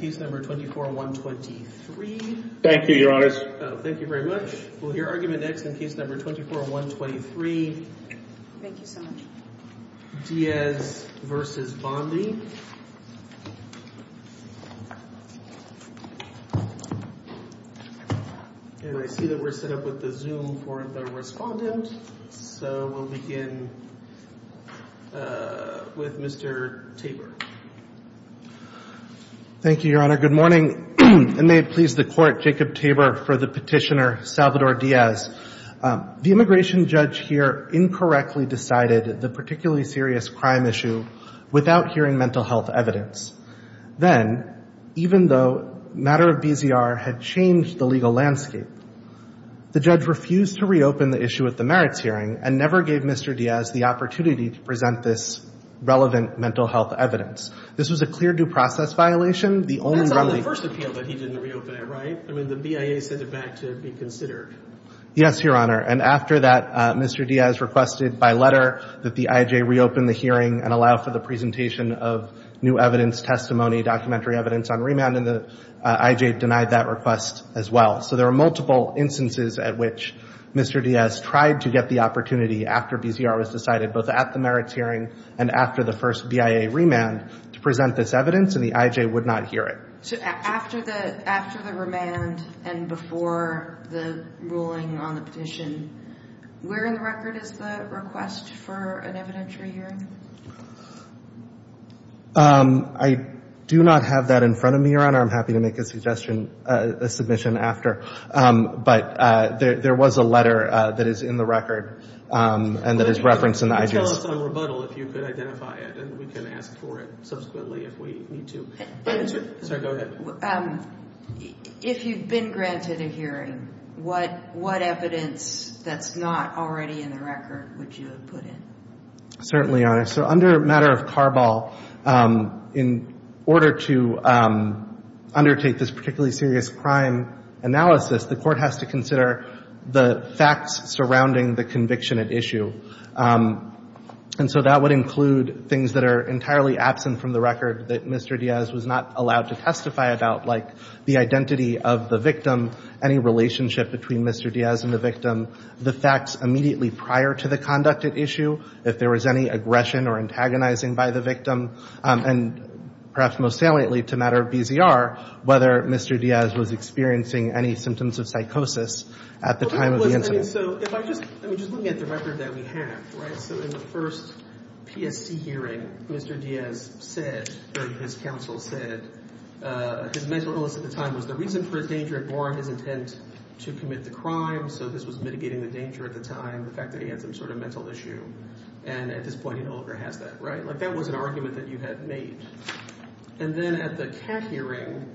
Díaz v. Bondi And I see that we're set up with the Zoom for the respondent. So we'll begin with Mr. Tabor. Thank you, Your Honor. Good morning. And may it please the Court, Jacob Tabor for the petitioner, Salvador Díaz. The immigration judge here incorrectly decided the particularly serious crime issue without hearing mental health evidence. Then, even though matter of BZR had changed the legal landscape, the judge refused to reopen the issue at the merits hearing and never gave Mr. Díaz the opportunity to present this relevant mental health evidence. This was a clear due process violation. That's on the first appeal that he didn't reopen it, right? I mean, the BIA sent it back to be considered. Yes, Your Honor. And after that, Mr. Díaz requested by letter that the IJ reopen the hearing and allow for the presentation of new evidence, testimony, documentary evidence on remand, and the IJ denied that request as well. So there are multiple instances at which Mr. Díaz tried to get the opportunity after BZR was decided, both at the merits hearing and after the first BIA remand, to present this evidence, and the IJ would not hear it. So after the remand and before the ruling on the petition, where in the record is the request for an evidentiary hearing? I do not have that in front of me, Your Honor. I'm happy to make a suggestion, a submission after. But there was a letter that is in the record and that is referenced in the IJ's. Could you tell us on rebuttal if you could identify it, and we can ask for it subsequently if we need to. If you've been granted a hearing, what evidence that's not already in the record would you have put in? Certainly, Your Honor. So under a matter of carball, in order to undertake this particularly serious crime analysis, the court has to consider the facts surrounding the conviction at issue. And so that would include things that are entirely absent from the record that Mr. Díaz was not allowed to testify about, like the identity of the victim, any relationship between Mr. Díaz and the victim, the facts immediately prior to the conduct at issue, if there was any aggression or antagonizing by the victim, and perhaps most saliently, to a matter of BZR, whether Mr. Díaz was experiencing any symptoms of psychosis at the time of the incident. So if I just, I mean, just looking at the record that we have, right? So in the first PSC hearing, Mr. Díaz said, or his counsel said, that his mental illness at the time was the reason for his danger and bore on his intent to commit the crime. So this was mitigating the danger at the time, the fact that he had some sort of mental issue. And at this point, he no longer has that, right? Like that was an argument that you had made. And then at the CAT hearing,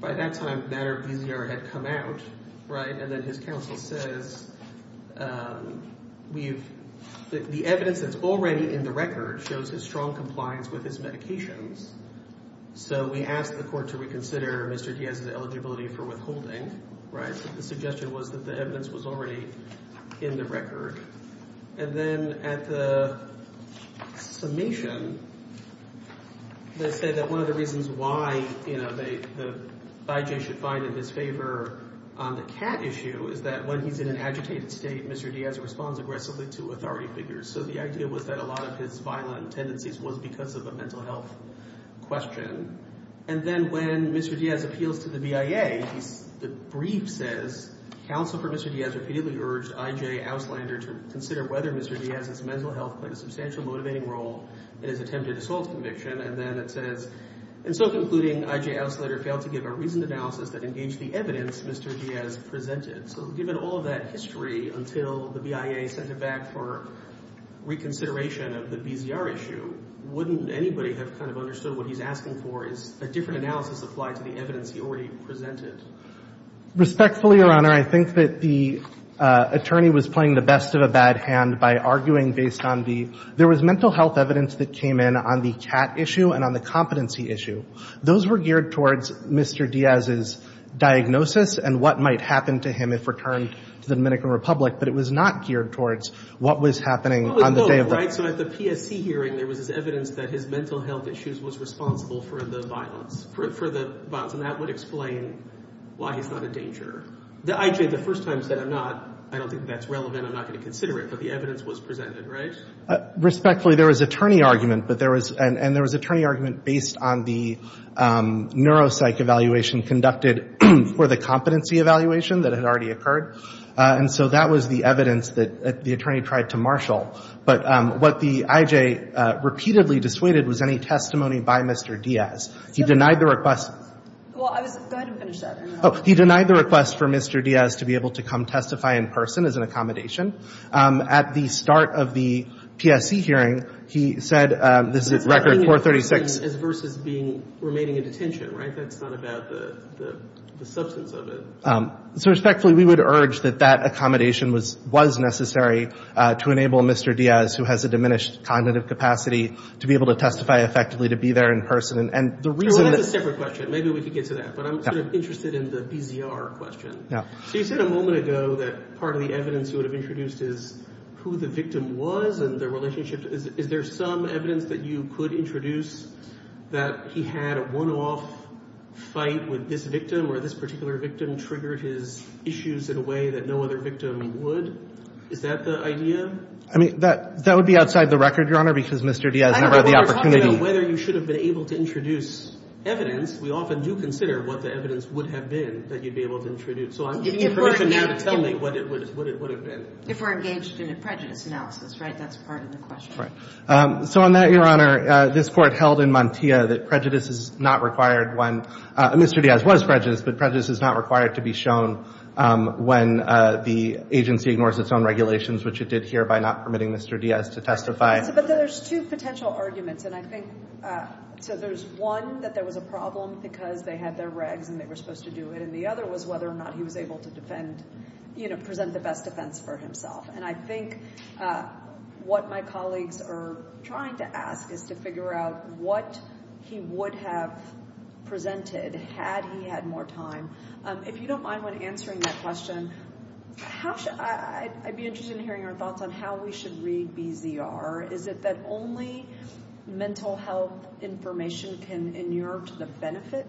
by that time, a matter of BZR had come out, right? And then his counsel says, we've, the evidence that's already in the record shows his strong compliance with his medications. So we asked the court to reconsider Mr. Díaz's eligibility for withholding, right? The suggestion was that the evidence was already in the record. And then at the summation, they said that one of the reasons why, you know, the FIJ should find in his favor on the CAT issue is that when he's in an agitated state, Mr. Díaz responds aggressively to authority figures. So the idea was that a lot of his violent tendencies was because of a mental health question. And then when Mr. Díaz appeals to the BIA, the brief says, counsel for Mr. Díaz repeatedly urged I.J. Auslander to consider whether Mr. Díaz's mental health played a substantial motivating role in his attempted assault conviction. And then it says, in so concluding, I.J. Auslander failed to give a reasoned analysis that engaged the evidence Mr. Díaz presented. So given all of that history until the BIA sent it back for reconsideration of the BZR issue, wouldn't anybody have kind of understood what he's asking for is a different analysis applied to the evidence he already presented? Respectfully, Your Honor, I think that the attorney was playing the best of a bad hand by arguing based on the – there was mental health evidence that came in on the CAT issue and on the competency issue. Those were geared towards Mr. Díaz's diagnosis and what might happen to him if returned to the Dominican Republic. But it was not geared towards what was happening on the day of the – So at the PSC hearing, there was this evidence that his mental health issues was responsible for the violence – for the violence, and that would explain why he's not a danger. The I.J. the first time said, I'm not – I don't think that's relevant. I'm not going to consider it. But the evidence was presented, right? Respectfully, there was attorney argument, but there was – and there was attorney argument based on the neuropsych evaluation conducted for the competency evaluation that had already occurred. And so that was the evidence that the attorney tried to marshal. But what the I.J. repeatedly dissuaded was any testimony by Mr. Díaz. He denied the request – Well, I was – go ahead and finish that. Oh, he denied the request for Mr. Díaz to be able to come testify in person as an accommodation. At the start of the PSC hearing, he said – this is record 436 – It's not being an accommodation as versus being – remaining in detention, right? That's not about the substance of it. So respectfully, we would urge that that accommodation was necessary to enable Mr. Díaz, who has a diminished cognitive capacity, to be able to testify effectively to be there in person. And the reason – Well, that's a separate question. Maybe we could get to that. But I'm sort of interested in the BZR question. Yeah. So you said a moment ago that part of the evidence you would have introduced is who the victim was and their relationship. Is there some evidence that you could introduce that he had a one-off fight with this victim or this particular victim triggered his issues in a way that no other victim would? Is that the idea? I mean, that would be outside the record, Your Honor, because Mr. Díaz never had the opportunity. We're talking about whether you should have been able to introduce evidence. We often do consider what the evidence would have been that you'd be able to introduce. So I'm giving you permission now to tell me what it would have been. If we're engaged in a prejudice analysis, right? That's part of the question. Right. So on that, Your Honor, this Court held in Mantilla that prejudice is not required when – Mr. Díaz was prejudiced, but prejudice is not required to be shown when the agency ignores its own regulations, which it did here by not permitting Mr. Díaz to testify. But there's two potential arguments. And I think – so there's one, that there was a problem because they had their regs and they were supposed to do it, and the other was whether or not he was able to defend – present the best defense for himself. And I think what my colleagues are trying to ask is to figure out what he would have presented had he had more time. If you don't mind when answering that question, I'd be interested in hearing your thoughts on how we should read BZR. Is it that only mental health information can inert the benefit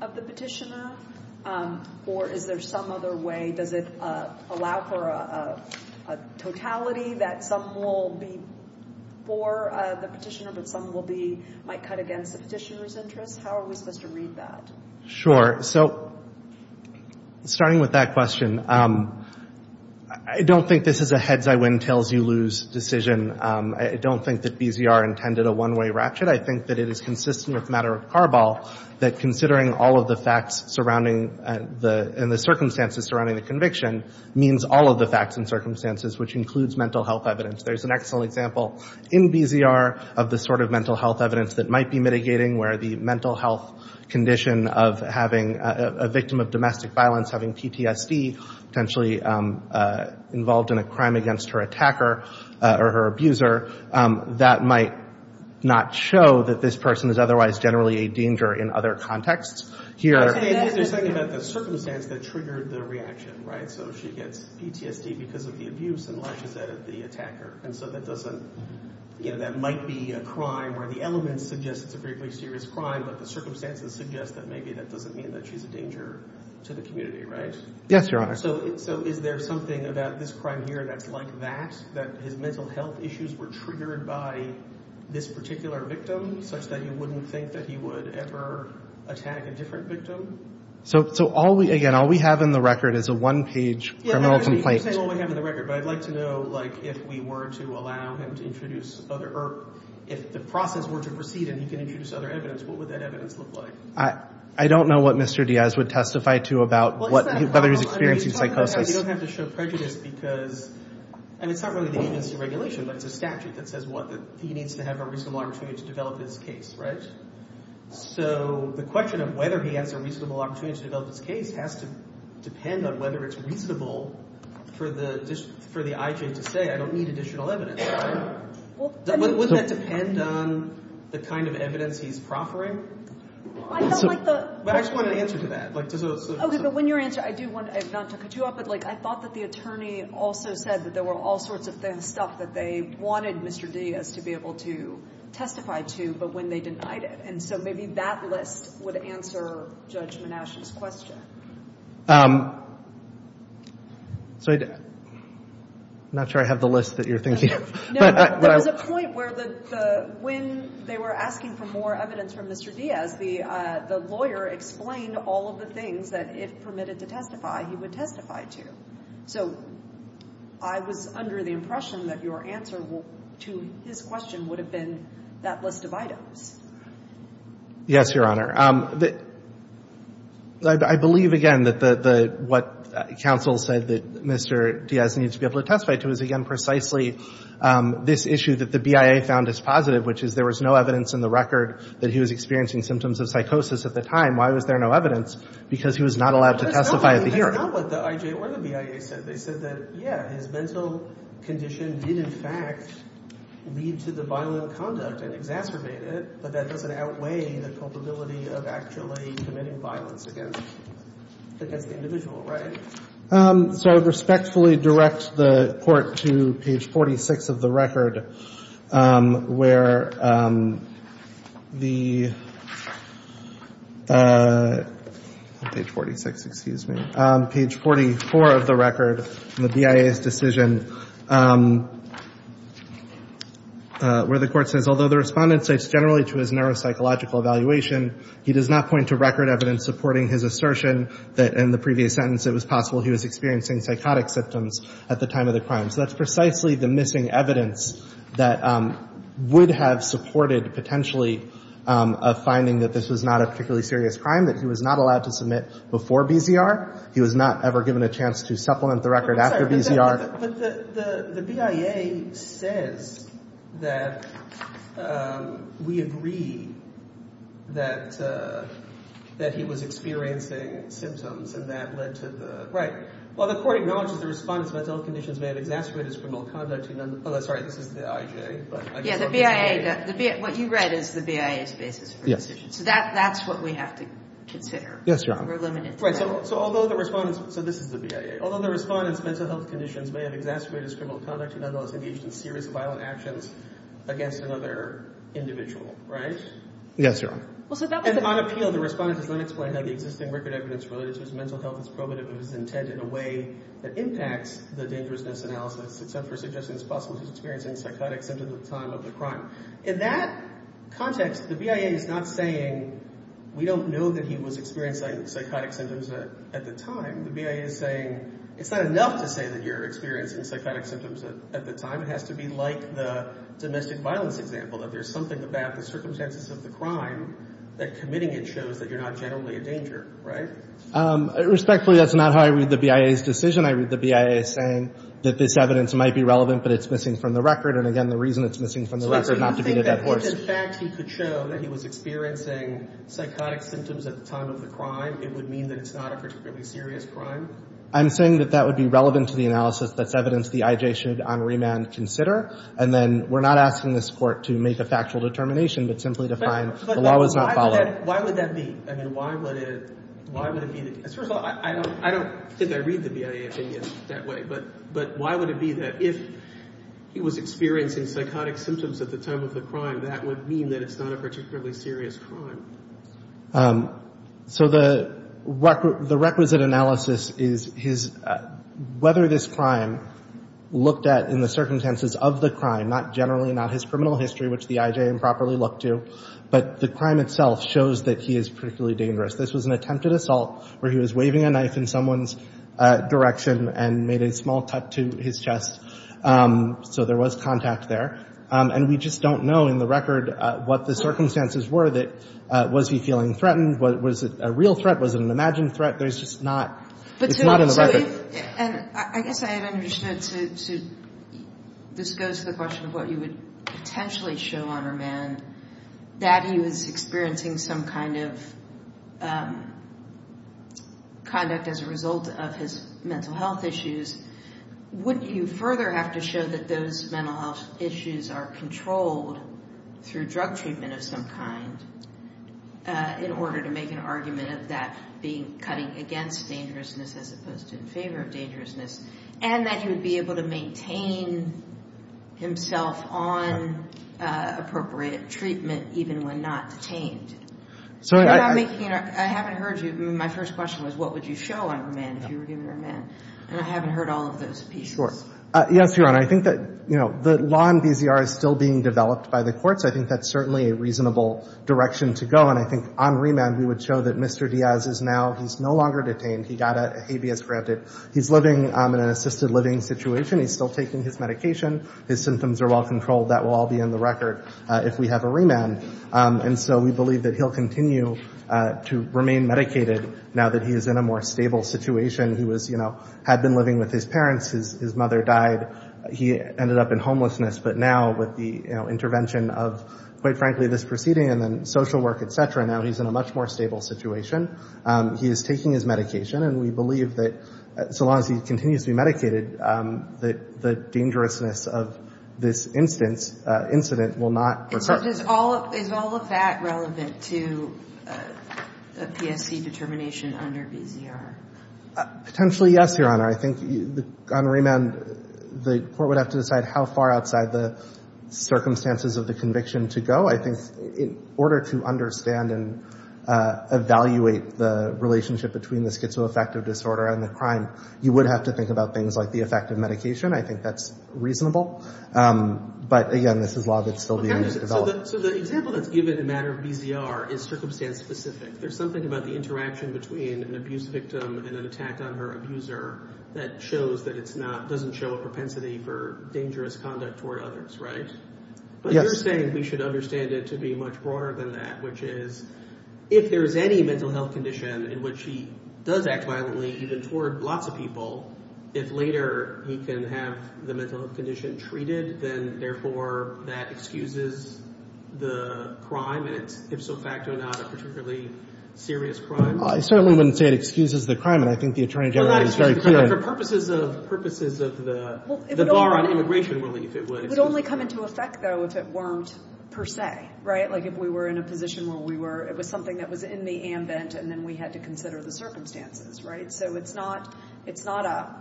of the petitioner? Or is there some other way? Does it allow for a totality that some will be for the petitioner but some will be – might cut against the petitioner's interest? How are we supposed to read that? Sure. So starting with that question, I don't think this is a heads-I-win-tails-you-lose decision. I don't think that BZR intended a one-way ratchet. I think that it is consistent with the matter of Carball that considering all of the facts surrounding the – and the circumstances surrounding the conviction means all of the facts and circumstances, which includes mental health evidence. There's an excellent example in BZR of the sort of mental health evidence that might be mitigating, where the mental health condition of having – a victim of domestic violence having PTSD, potentially involved in a crime against her attacker or her abuser, that might not show that this person is otherwise generally a danger in other contexts. Here – They're saying about the circumstance that triggered the reaction, right? So she gets PTSD because of the abuse and lashes out at the attacker. And so that doesn't – that might be a crime where the elements suggest it's a very serious crime, but the circumstances suggest that maybe that doesn't mean that she's a danger to the community, right? Yes, Your Honor. So is there something about this crime here that's like that, that his mental health issues were triggered by this particular victim, such that you wouldn't think that he would ever attack a different victim? So all we – again, all we have in the record is a one-page criminal complaint. You're saying all we have in the record, but I'd like to know, like, if we were to allow him to introduce other – or if the process were to proceed and he could introduce other evidence, what would that evidence look like? I don't know what Mr. Diaz would testify to about whether he's experiencing psychosis. You don't have to show prejudice because – and it's not really the agency regulation, but it's a statute that says what, that he needs to have a reasonable opportunity to develop his case, right? So the question of whether he has a reasonable opportunity to develop his case has to depend on whether it's reasonable for the – for the IJ to say, I don't need additional evidence, right? Wouldn't that depend on the kind of evidence he's proffering? I don't like the – I just want an answer to that. Okay, but when you answer, I do want – I don't want to cut you off, but, like, I thought that the attorney also said that there were all sorts of stuff that they wanted Mr. Diaz to be able to testify to, but when they denied it. And so maybe that list would answer Judge Monash's question. So I – I'm not sure I have the list that you're thinking of. No, but there was a point where the – when they were asking for more evidence from Mr. Diaz, the lawyer explained all of the things that if permitted to testify, he would testify to. So I was under the impression that your answer to his question would have been that list of items. Yes, Your Honor. I believe, again, that the – what counsel said that Mr. Diaz needed to be able to testify to is, again, precisely this issue that the BIA found as positive, which is there was no evidence in the record that he was experiencing symptoms of psychosis at the time. Why was there no evidence? Because he was not allowed to testify at the hearing. That's not what the IJ or the BIA said. They said that, yeah, his mental condition did, in fact, lead to the violent conduct and exacerbate it, but that doesn't outweigh the culpability of actually committing violence against the individual, right? So I would respectfully direct the Court to page 46 of the record where the – page 46, excuse me – page 44 of the record in the BIA's decision where the Court says, although the Respondent states generally to his neuropsychological evaluation, he does not point to record evidence supporting his assertion that in the previous sentence it was possible he was experiencing psychotic symptoms at the time of the crime. So that's precisely the missing evidence that would have supported potentially a finding that this was not a particularly serious crime, that he was not allowed to submit before BZR. He was not ever given a chance to supplement the record after BZR. But the BIA says that we agree that he was experiencing symptoms and that led to the – right. Well, the Court acknowledges the Respondent's mental health conditions may have exacerbated his criminal conduct. Sorry, this is the IJ. Yeah, the BIA – what you read is the BIA's basis for the decision. So that's what we have to consider. Yes, Your Honor. We're limited to that. Right. So although the Respondent – so this is the BIA. Although the Respondent's mental health conditions may have exacerbated his criminal conduct, he nonetheless engaged in serious violent actions against another individual, right? Yes, Your Honor. And on appeal, the Respondent does not explain how the existing record evidence related to his mental health is probative of his intent in a way that impacts the dangerousness analysis, except for suggesting it's possible he's experiencing psychotic symptoms at the time of the crime. In that context, the BIA is not saying we don't know that he was experiencing psychotic symptoms at the time. The BIA is saying it's not enough to say that you're experiencing psychotic symptoms at the time. It has to be like the domestic violence example, that there's something about the circumstances of the crime that committing it shows that you're not generally in danger. Right? Respectfully, that's not how I read the BIA's decision. I read the BIA saying that this evidence might be relevant, but it's missing from the record. And again, the reason it's missing from the record is not to beat a dead horse. So you think that if, in fact, he could show that he was experiencing psychotic symptoms at the time of the crime, it would mean that it's not a particularly serious crime? I'm saying that that would be relevant to the analysis. That's evidence the IJ should on remand consider. And then we're not asking this Court to make a factual determination, but simply to find the law was not followed. Why would that be? I mean, why would it be? First of all, I don't think I read the BIA opinion that way. But why would it be that if he was experiencing psychotic symptoms at the time of the crime, that would mean that it's not a particularly serious crime? So the requisite analysis is whether this crime looked at in the circumstances of the crime, not generally, not his criminal history, which the IJ improperly looked to, but the crime itself shows that he is particularly dangerous. This was an attempted assault where he was waving a knife in someone's direction and made a small cut to his chest. So there was contact there. And we just don't know in the record what the circumstances were that was he feeling threatened. Was it a real threat? Was it an imagined threat? There's just not. It's not in the record. And I guess I had understood, this goes to the question of what you would potentially show on a man, that he was experiencing some kind of conduct as a result of his mental health issues. Wouldn't you further have to show that those mental health issues are controlled through drug treatment of some kind in order to make an argument of that being cutting against dangerousness as opposed to in favor of dangerousness, and that he would be able to maintain himself on appropriate treatment even when not detained? I haven't heard you. My first question was, what would you show on a man, if you were given a man? And I haven't heard all of those pieces. Yes, Your Honor. I think that, you know, the law in BZR is still being developed by the courts. I think that's certainly a reasonable direction to go. And I think on remand, we would show that Mr. Diaz is now, he's no longer detained. He got a habeas granted. He's living in an assisted living situation. He's still taking his medication. His symptoms are well controlled. That will all be in the record if we have a remand. And so we believe that he'll continue to remain medicated now that he is in a more stable situation. He was, you know, had been living with his parents. His mother died. He ended up in homelessness. But now with the, you know, intervention of, quite frankly, this proceeding and then social work, et cetera, now he's in a much more stable situation. He is taking his medication. And we believe that so long as he continues to be medicated, that the dangerousness of this instance, incident, will not recur. Is all of that relevant to a PSC determination under BZR? Potentially, yes, Your Honor. I think on remand, the court would have to decide how far outside the circumstances of the conviction to go. I think in order to understand and evaluate the relationship between the schizoaffective disorder and the crime, you would have to think about things like the effect of medication. I think that's reasonable. But, again, this is law that's still being developed. So the example that's given in the matter of BZR is circumstance specific. There's something about the interaction between an abuse victim and an attack on her abuser that shows that it's not, doesn't show a propensity for dangerous conduct toward others, right? Yes. But you're saying we should understand it to be much broader than that, which is if there's any mental health condition in which he does act violently, even toward lots of people, if later he can have the mental health condition treated, then, therefore, that excuses the crime. And it's, if so facto, not a particularly serious crime? I certainly wouldn't say it excuses the crime. And I think the Attorney General is very clear. For purposes of the bar on immigration relief, it would. It would only come into effect, though, if it weren't per se, right? Like if we were in a position where we were, it was something that was in the ambent and then we had to consider the circumstances, right? So it's not a,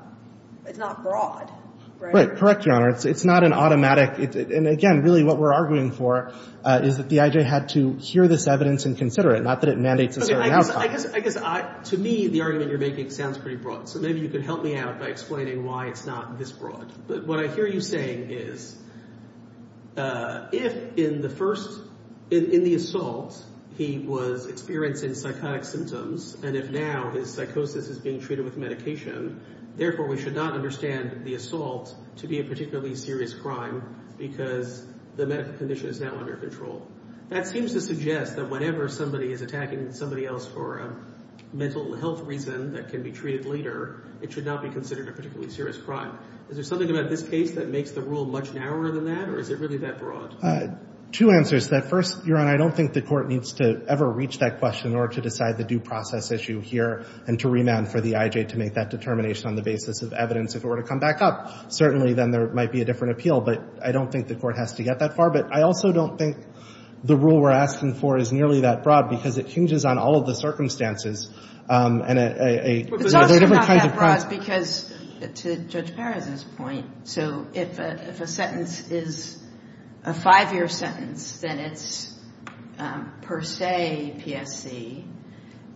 it's not broad, right? Correct, Your Honor. It's not an automatic, and again, really what we're arguing for is that the I.J. had to hear this evidence and consider it, not that it mandates a certain outcome. I guess, to me, the argument you're making sounds pretty broad. So maybe you could help me out by explaining why it's not this broad. But what I hear you saying is if in the first, in the assault, he was experiencing psychotic symptoms and if now his psychosis is being treated with medication, therefore we should not understand the assault to be a particularly serious crime because the medical condition is now under control. That seems to suggest that whenever somebody is attacking somebody else for a mental health reason that can be treated later, it should not be considered a particularly serious crime. Is there something about this case that makes the rule much narrower than that or is it really that broad? Two answers to that. First, Your Honor, I don't think the court needs to ever reach that question in order to decide the due process issue here and to remand for the I.J. to make that determination on the basis of evidence. If it were to come back up, certainly then there might be a different appeal. But I don't think the court has to get that far. But I also don't think the rule we're asking for is nearly that broad because it hinges on all of the circumstances. And there are different kinds of crimes. But it's also not that broad because, to Judge Perez's point, so if a sentence is a five-year sentence, then it's per se PSC.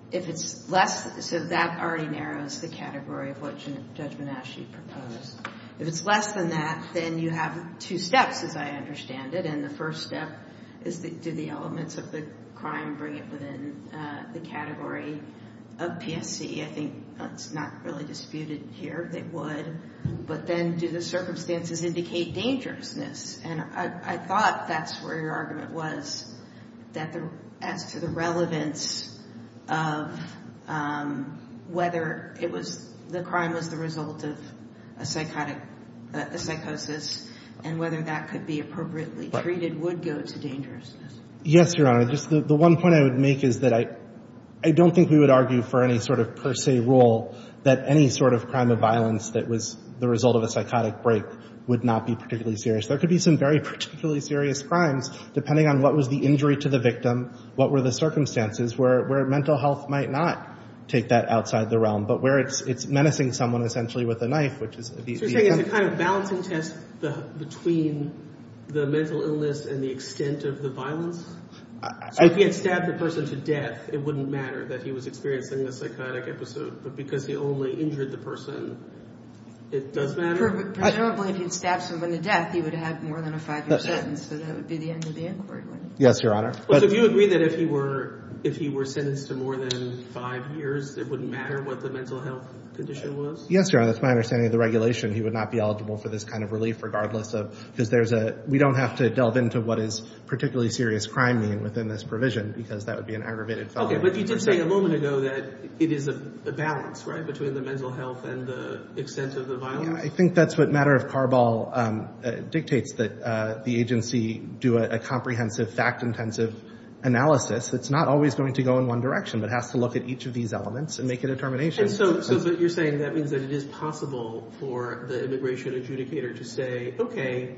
If it's less, so that already narrows the category of what Judge Menasche proposed. If it's less than that, then you have two steps, as I understand it. And the first step is do the elements of the crime bring it within the category of PSC? I think that's not really disputed here. They would. But then do the circumstances indicate dangerousness? And I thought that's where your argument was, that as to the relevance of whether the crime was the result of a psychosis and whether that could be appropriately treated would go to dangerousness. Yes, Your Honor. The one point I would make is that I don't think we would argue for any sort of per se rule that any sort of crime of violence that was the result of a psychotic break would not be particularly serious. There could be some very particularly serious crimes, depending on what was the injury to the victim, what were the circumstances, where mental health might not take that outside the realm, but where it's menacing someone essentially with a knife. So you're saying it's a kind of balancing test between the mental illness and the extent of the violence? So if he had stabbed the person to death, it wouldn't matter that he was experiencing a psychotic episode, but because he only injured the person, it does matter? Presumably if he had stabbed someone to death, he would have had more than a five-year sentence, so that would be the end of the inquiry. Yes, Your Honor. So do you agree that if he were sentenced to more than five years, it wouldn't matter what the mental health condition was? Yes, Your Honor. That's my understanding of the regulation. He would not be eligible for this kind of relief, regardless ofó because we don't have to delve into what is particularly serious crime mean within this provision because that would be an aggravated felony. Okay. But you did say a moment ago that it is a balance, right, between the mental health and the extent of the violence. I think that's what matter-of-carball dictates, that the agency do a comprehensive, fact-intensive analysis that's not always going to go in one direction, but has to look at each of these elements and make a determination. So you're saying that means that it is possible for the immigration adjudicator to say, okay,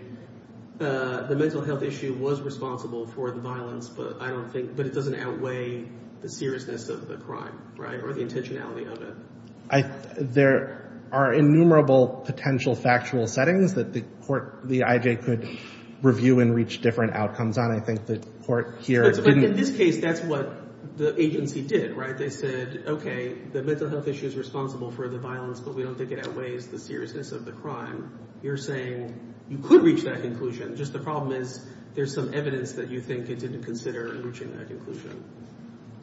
the mental health issue was responsible for the violence, but I don't thinkóbut it doesn't outweigh the seriousness of the crime, right, or the intentionality of it? There are innumerable potential factual settings that the court, the IJ, could review and reach different outcomes on. I think the court hereó But in this case, that's what the agency did, right? They said, okay, the mental health issue is responsible for the violence, but we don't think it outweighs the seriousness of the crime. You're saying you could reach that conclusion. Just the problem is there's some evidence that you think it didn't consider reaching that conclusion.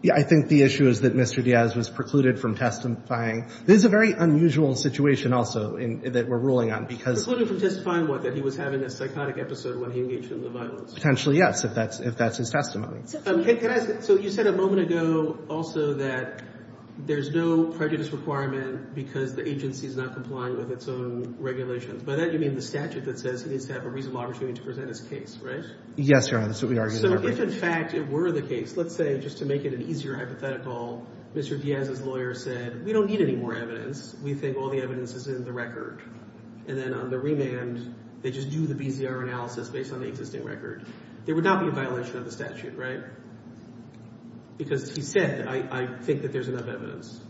Yeah, I think the issue is that Mr. Diaz was precluded from testifying. This is a very unusual situation also that we're ruling on becauseó Precluded from testifying what? That he was having a psychotic episode when he engaged in the violence. Potentially, yes, if that's his testimony. Can I askóso you said a moment ago also that there's no prejudice requirement because the agency is not complying with its own regulations. By that, you mean the statute that says he needs to have a reasonable opportunity to present his case, right? Yes, Your Honor, that's what we argued in our case. So if, in fact, it were the case, let's say, just to make it an easier hypothetical, Mr. Diaz's lawyer said, we don't need any more evidence. We think all the evidence is in the record. And then on the remand, they just do the BZR analysis based on the existing record. There would not be a violation of the statute, right? Because he said, I think that there's enough evidence.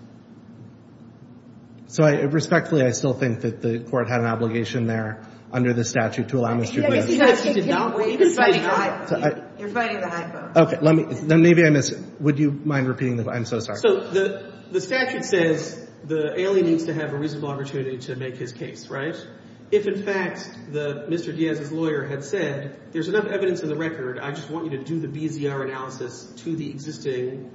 So respectfully, I still think that the court had an obligation there under the statute to allow Mr. Diazó You're fighting the hypo. Okay. Then maybe I missedówould you mind repeating theóI'm so sorry. So the statute says the alien needs to have a reasonable opportunity to make his case, right? If, in fact, Mr. Diaz's lawyer had said, there's enough evidence in the record, I just want you to do the BZR analysis to the existing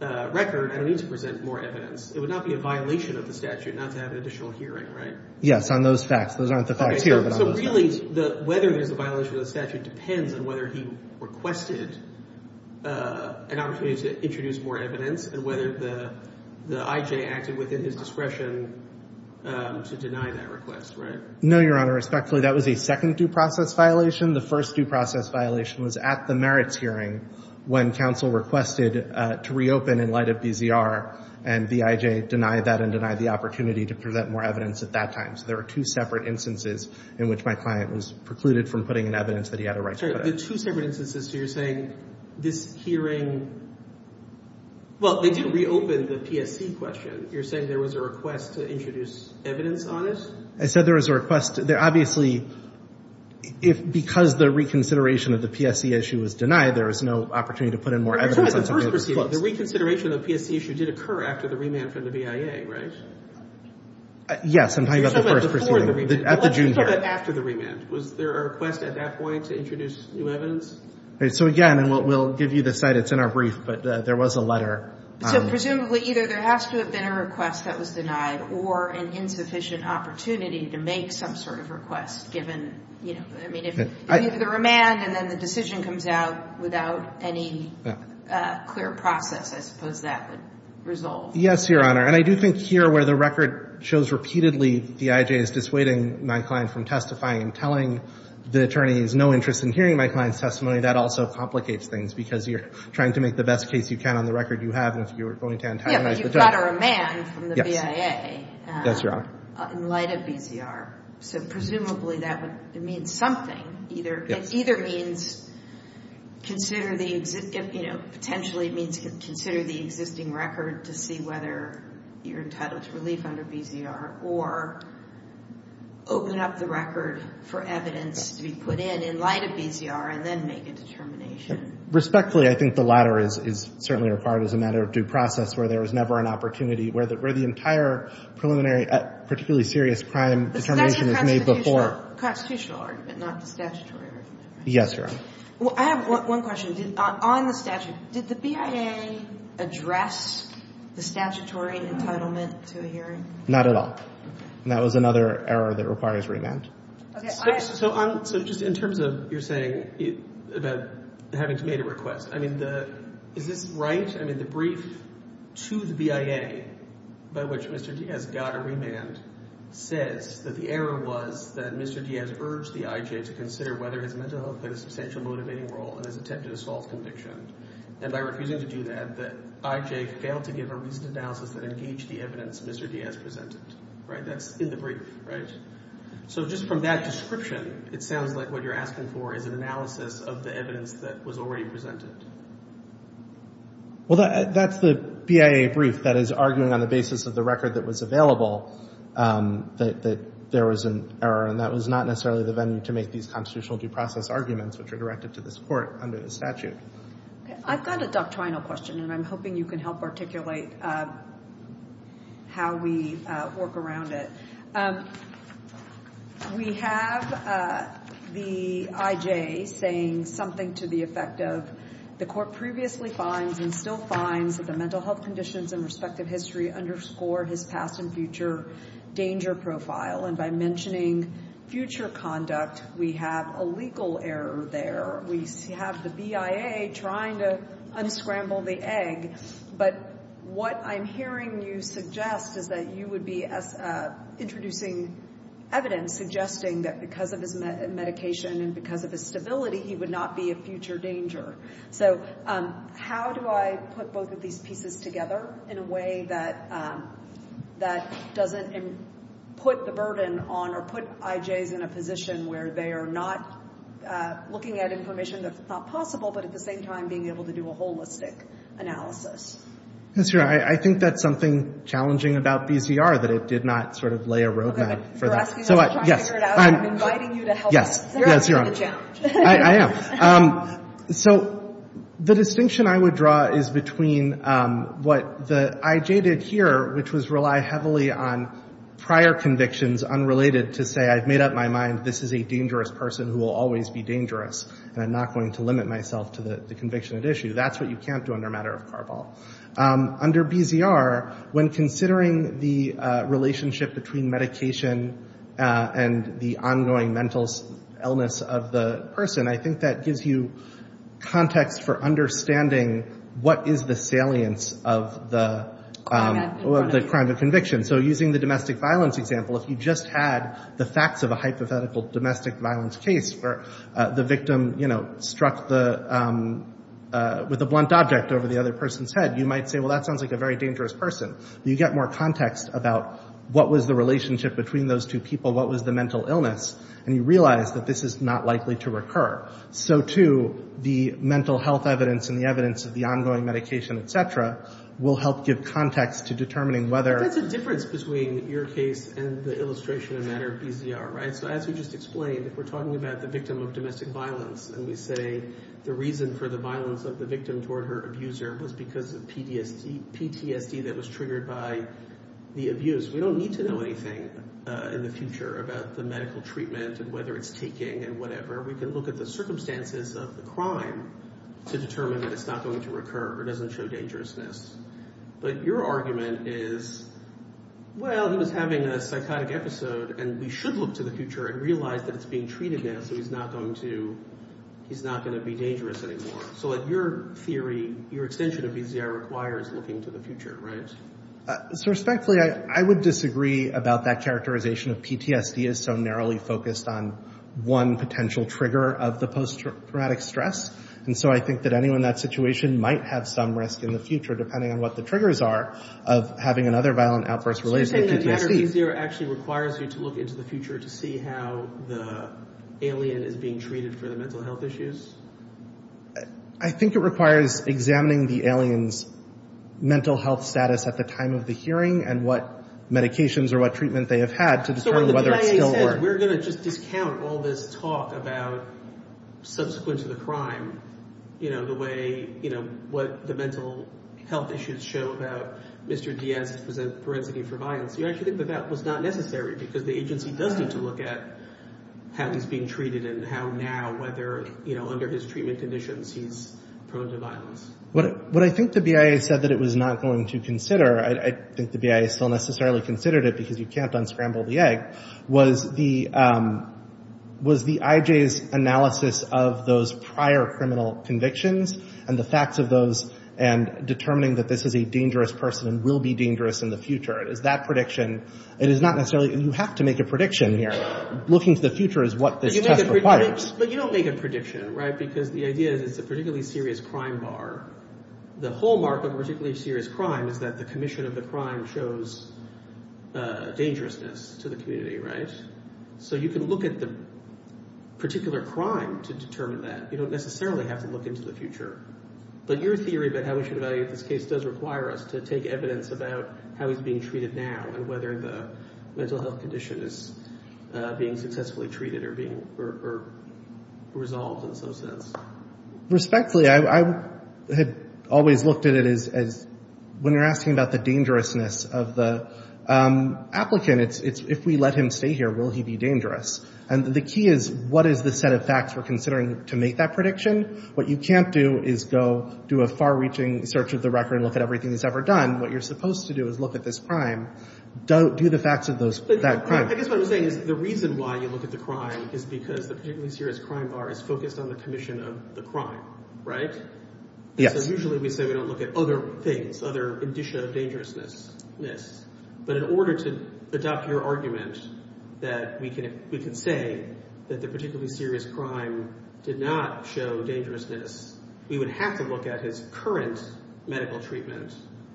record, I don't need to present more evidence. It would not be a violation of the statute not to have an additional hearing, right? Yes, on those facts. Those aren't the facts here, but on those facts. So really, whether there's a violation of the statute depends on whether he requested an opportunity to introduce more evidence and whether the IJ acted within his discretion to deny that request, right? No, Your Honor. Respectfully, that was a second due process violation. The first due process violation was at the merits hearing when counsel requested to reopen in light of BZR, and the IJ denied that and denied the opportunity to present more evidence at that time. So there are two separate instances in which my client was precluded from putting in evidence that he had a right to put in. The two separate instances, so you're saying this hearing, well, they didn't reopen the PSC question. You're saying there was a request to introduce evidence on it? I said there was a request. Obviously, because the reconsideration of the PSC issue was denied, there was no opportunity to put in more evidence on something that was close. The reconsideration of the PSC issue did occur after the remand from the BIA, right? Yes, I'm talking about the first proceeding. Before the remand. At the June hearing. Let's talk about after the remand. Was there a request at that point to introduce new evidence? So, again, and we'll give you the cite. It's in our brief, but there was a letter. So presumably either there has to have been a request that was denied or an insufficient opportunity to make some sort of request given, you know, I mean, if either the remand and then the decision comes out without any clear process, I suppose that would resolve. Yes, Your Honor. And I do think here where the record shows repeatedly the IJ is dissuading my client from testifying and telling the attorneys no interest in hearing my client's testimony, that also complicates things because you're trying to make the best case you can on the record you have. And if you're going to antagonize the judge. Yeah, but you've got a remand from the BIA. Yes, Your Honor. In light of BZR. So presumably that would mean something. Yes. It either means consider the, you know, potentially it means consider the existing record to see whether you're entitled to relief under BZR or open up the record for evidence to be put in, in light of BZR, and then make a determination. Respectfully, I think the latter is certainly required as a matter of due process where there is never an opportunity, where the entire preliminary particularly serious crime determination is made before. That's a constitutional argument, not a statutory argument. Yes, Your Honor. Well, I have one question. On the statute, did the BIA address the statutory entitlement to a hearing? Not at all. And that was another error that requires remand. Okay. So just in terms of your saying about having to make a request, I mean, is this right? I mean, the brief to the BIA by which Mr. Diaz got a remand says that the error was that Mr. Diaz urged the IJ to consider whether his mental health played a substantial motivating role in his attempted assault conviction, and by refusing to do that, the IJ failed to give a reasoned analysis that engaged the evidence Mr. Diaz presented. Right? That's in the brief, right? So just from that description, it sounds like what you're asking for is an analysis of the evidence that was already presented. Well, that's the BIA brief that is arguing on the basis of the record that was available that there was an error, and that was not necessarily the venue to make these constitutional due process arguments, which are directed to this Court under the statute. Okay. I've got a doctrinal question, and I'm hoping you can help articulate how we work around it. We have the IJ saying something to the effect of, the Court previously finds and still finds that the mental health conditions and respective history underscore his past and future danger profile, and by mentioning future conduct, we have a legal error there. We have the BIA trying to unscramble the egg, but what I'm hearing you suggest is that you would be introducing evidence suggesting that because of his medication and because of his stability, he would not be a future danger. So how do I put both of these pieces together in a way that doesn't put the burden on or put IJs in a position where they are not looking at information that's not possible, but at the same time being able to do a holistic analysis? That's right. I think that's something challenging about BCR, that it did not sort of lay a roadmap for that. I'm not asking you to try to figure it out. I'm inviting you to help me. Yes, Your Honor. You're asking a challenge. I am. So the distinction I would draw is between what the IJ did here, which was rely heavily on prior convictions unrelated to say, I've made up my mind, this is a dangerous person who will always be dangerous, and I'm not going to limit myself to the conviction at issue. That's what you can't do under a matter of Carball. Under BCR, when considering the relationship between medication and the ongoing mental illness of the person, I think that gives you context for understanding what is the salience of the crime of conviction. So using the domestic violence example, if you just had the facts of a hypothetical domestic violence case where the victim struck with a blunt object over the other person's head, you might say, well, that sounds like a very dangerous person. You get more context about what was the relationship between those two people, what was the mental illness, and you realize that this is not likely to recur. So, too, the mental health evidence and the evidence of the ongoing medication, et cetera, will help give context to determining whether— But that's a difference between your case and the illustration in a matter of BCR, right? So as we just explained, if we're talking about the victim of domestic violence and we say the reason for the violence of the victim toward her abuser was because of PTSD that was triggered by the abuse, we don't need to know anything in the future about the medical treatment and whether it's taking and whatever. We can look at the circumstances of the crime to determine that it's not going to recur or doesn't show dangerousness. But your argument is, well, he was having a psychotic episode, and we should look to the future and realize that it's being treated now, so he's not going to be dangerous anymore. So your theory, your extension of BCR requires looking to the future, right? Respectfully, I would disagree about that characterization of PTSD as so narrowly focused on one potential trigger of the post-traumatic stress. And so I think that anyone in that situation might have some risk in the future, depending on what the triggers are, of having another violent outburst related to PTSD. So in that matter, BCR actually requires you to look into the future to see how the alien is being treated for the mental health issues? I think it requires examining the alien's mental health status at the time of the hearing and what medications or what treatment they have had to determine whether it's still working. So when the CIA says we're going to just discount all this talk about subsequent to the crime, the way what the mental health issues show about Mr. Diaz's forensic information, you actually think that that was not necessary because the agency does need to look at how he's being treated and how now, whether under his treatment conditions, he's prone to violence. What I think the BIA said that it was not going to consider, I think the BIA still necessarily considered it because you can't unscramble the egg, was the IJ's analysis of those prior criminal convictions and the facts of those and determining that this is a dangerous person and will be dangerous in the future. Is that prediction, it is not necessarily, you have to make a prediction here. Looking to the future is what this test requires. But you don't make a prediction, right, because the idea is it's a particularly serious crime bar. The hallmark of a particularly serious crime is that the commission of the crime shows dangerousness to the community, right? So you can look at the particular crime to determine that. You don't necessarily have to look into the future. But your theory about how we should evaluate this case does require us to take evidence about how he's being treated now and whether the mental health condition is being successfully treated or being resolved in some sense. Respectfully, I had always looked at it as when you're asking about the dangerousness of the applicant, it's if we let him stay here, will he be dangerous? And the key is what is the set of facts we're considering to make that prediction? What you can't do is go do a far-reaching search of the record and look at everything he's ever done. What you're supposed to do is look at this crime, do the facts of that crime. I guess what I'm saying is the reason why you look at the crime is because the particularly serious crime bar is focused on the commission of the crime, right? Yes. So usually we say we don't look at other things, other indicia of dangerousness. But in order to adopt your argument that we can say that the particularly serious crime did not show dangerousness, we would have to look at his current medical treatment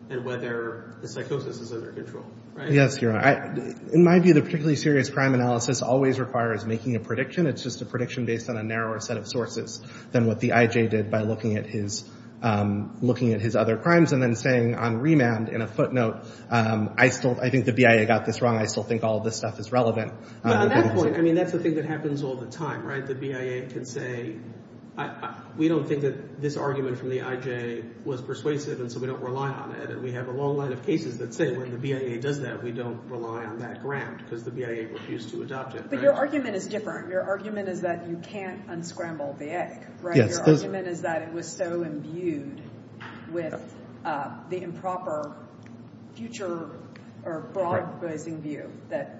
and whether the psychosis is under control, right? Yes, you're right. In my view, the particularly serious crime analysis always requires making a prediction. It's just a prediction based on a narrower set of sources than what the I.J. did by looking at his other crimes and then saying on remand, in a footnote, I think the BIA got this wrong. I still think all this stuff is relevant. But on that point, I mean, that's the thing that happens all the time, right? The BIA can say we don't think that this argument from the I.J. was persuasive, and so we don't rely on it. And we have a long line of cases that say when the BIA does that, we don't rely on that ground because the BIA refused to adopt it. But your argument is different. Your argument is that you can't unscramble the egg, right? Yes. Your argument is that it was so imbued with the improper future or broad-bracing view that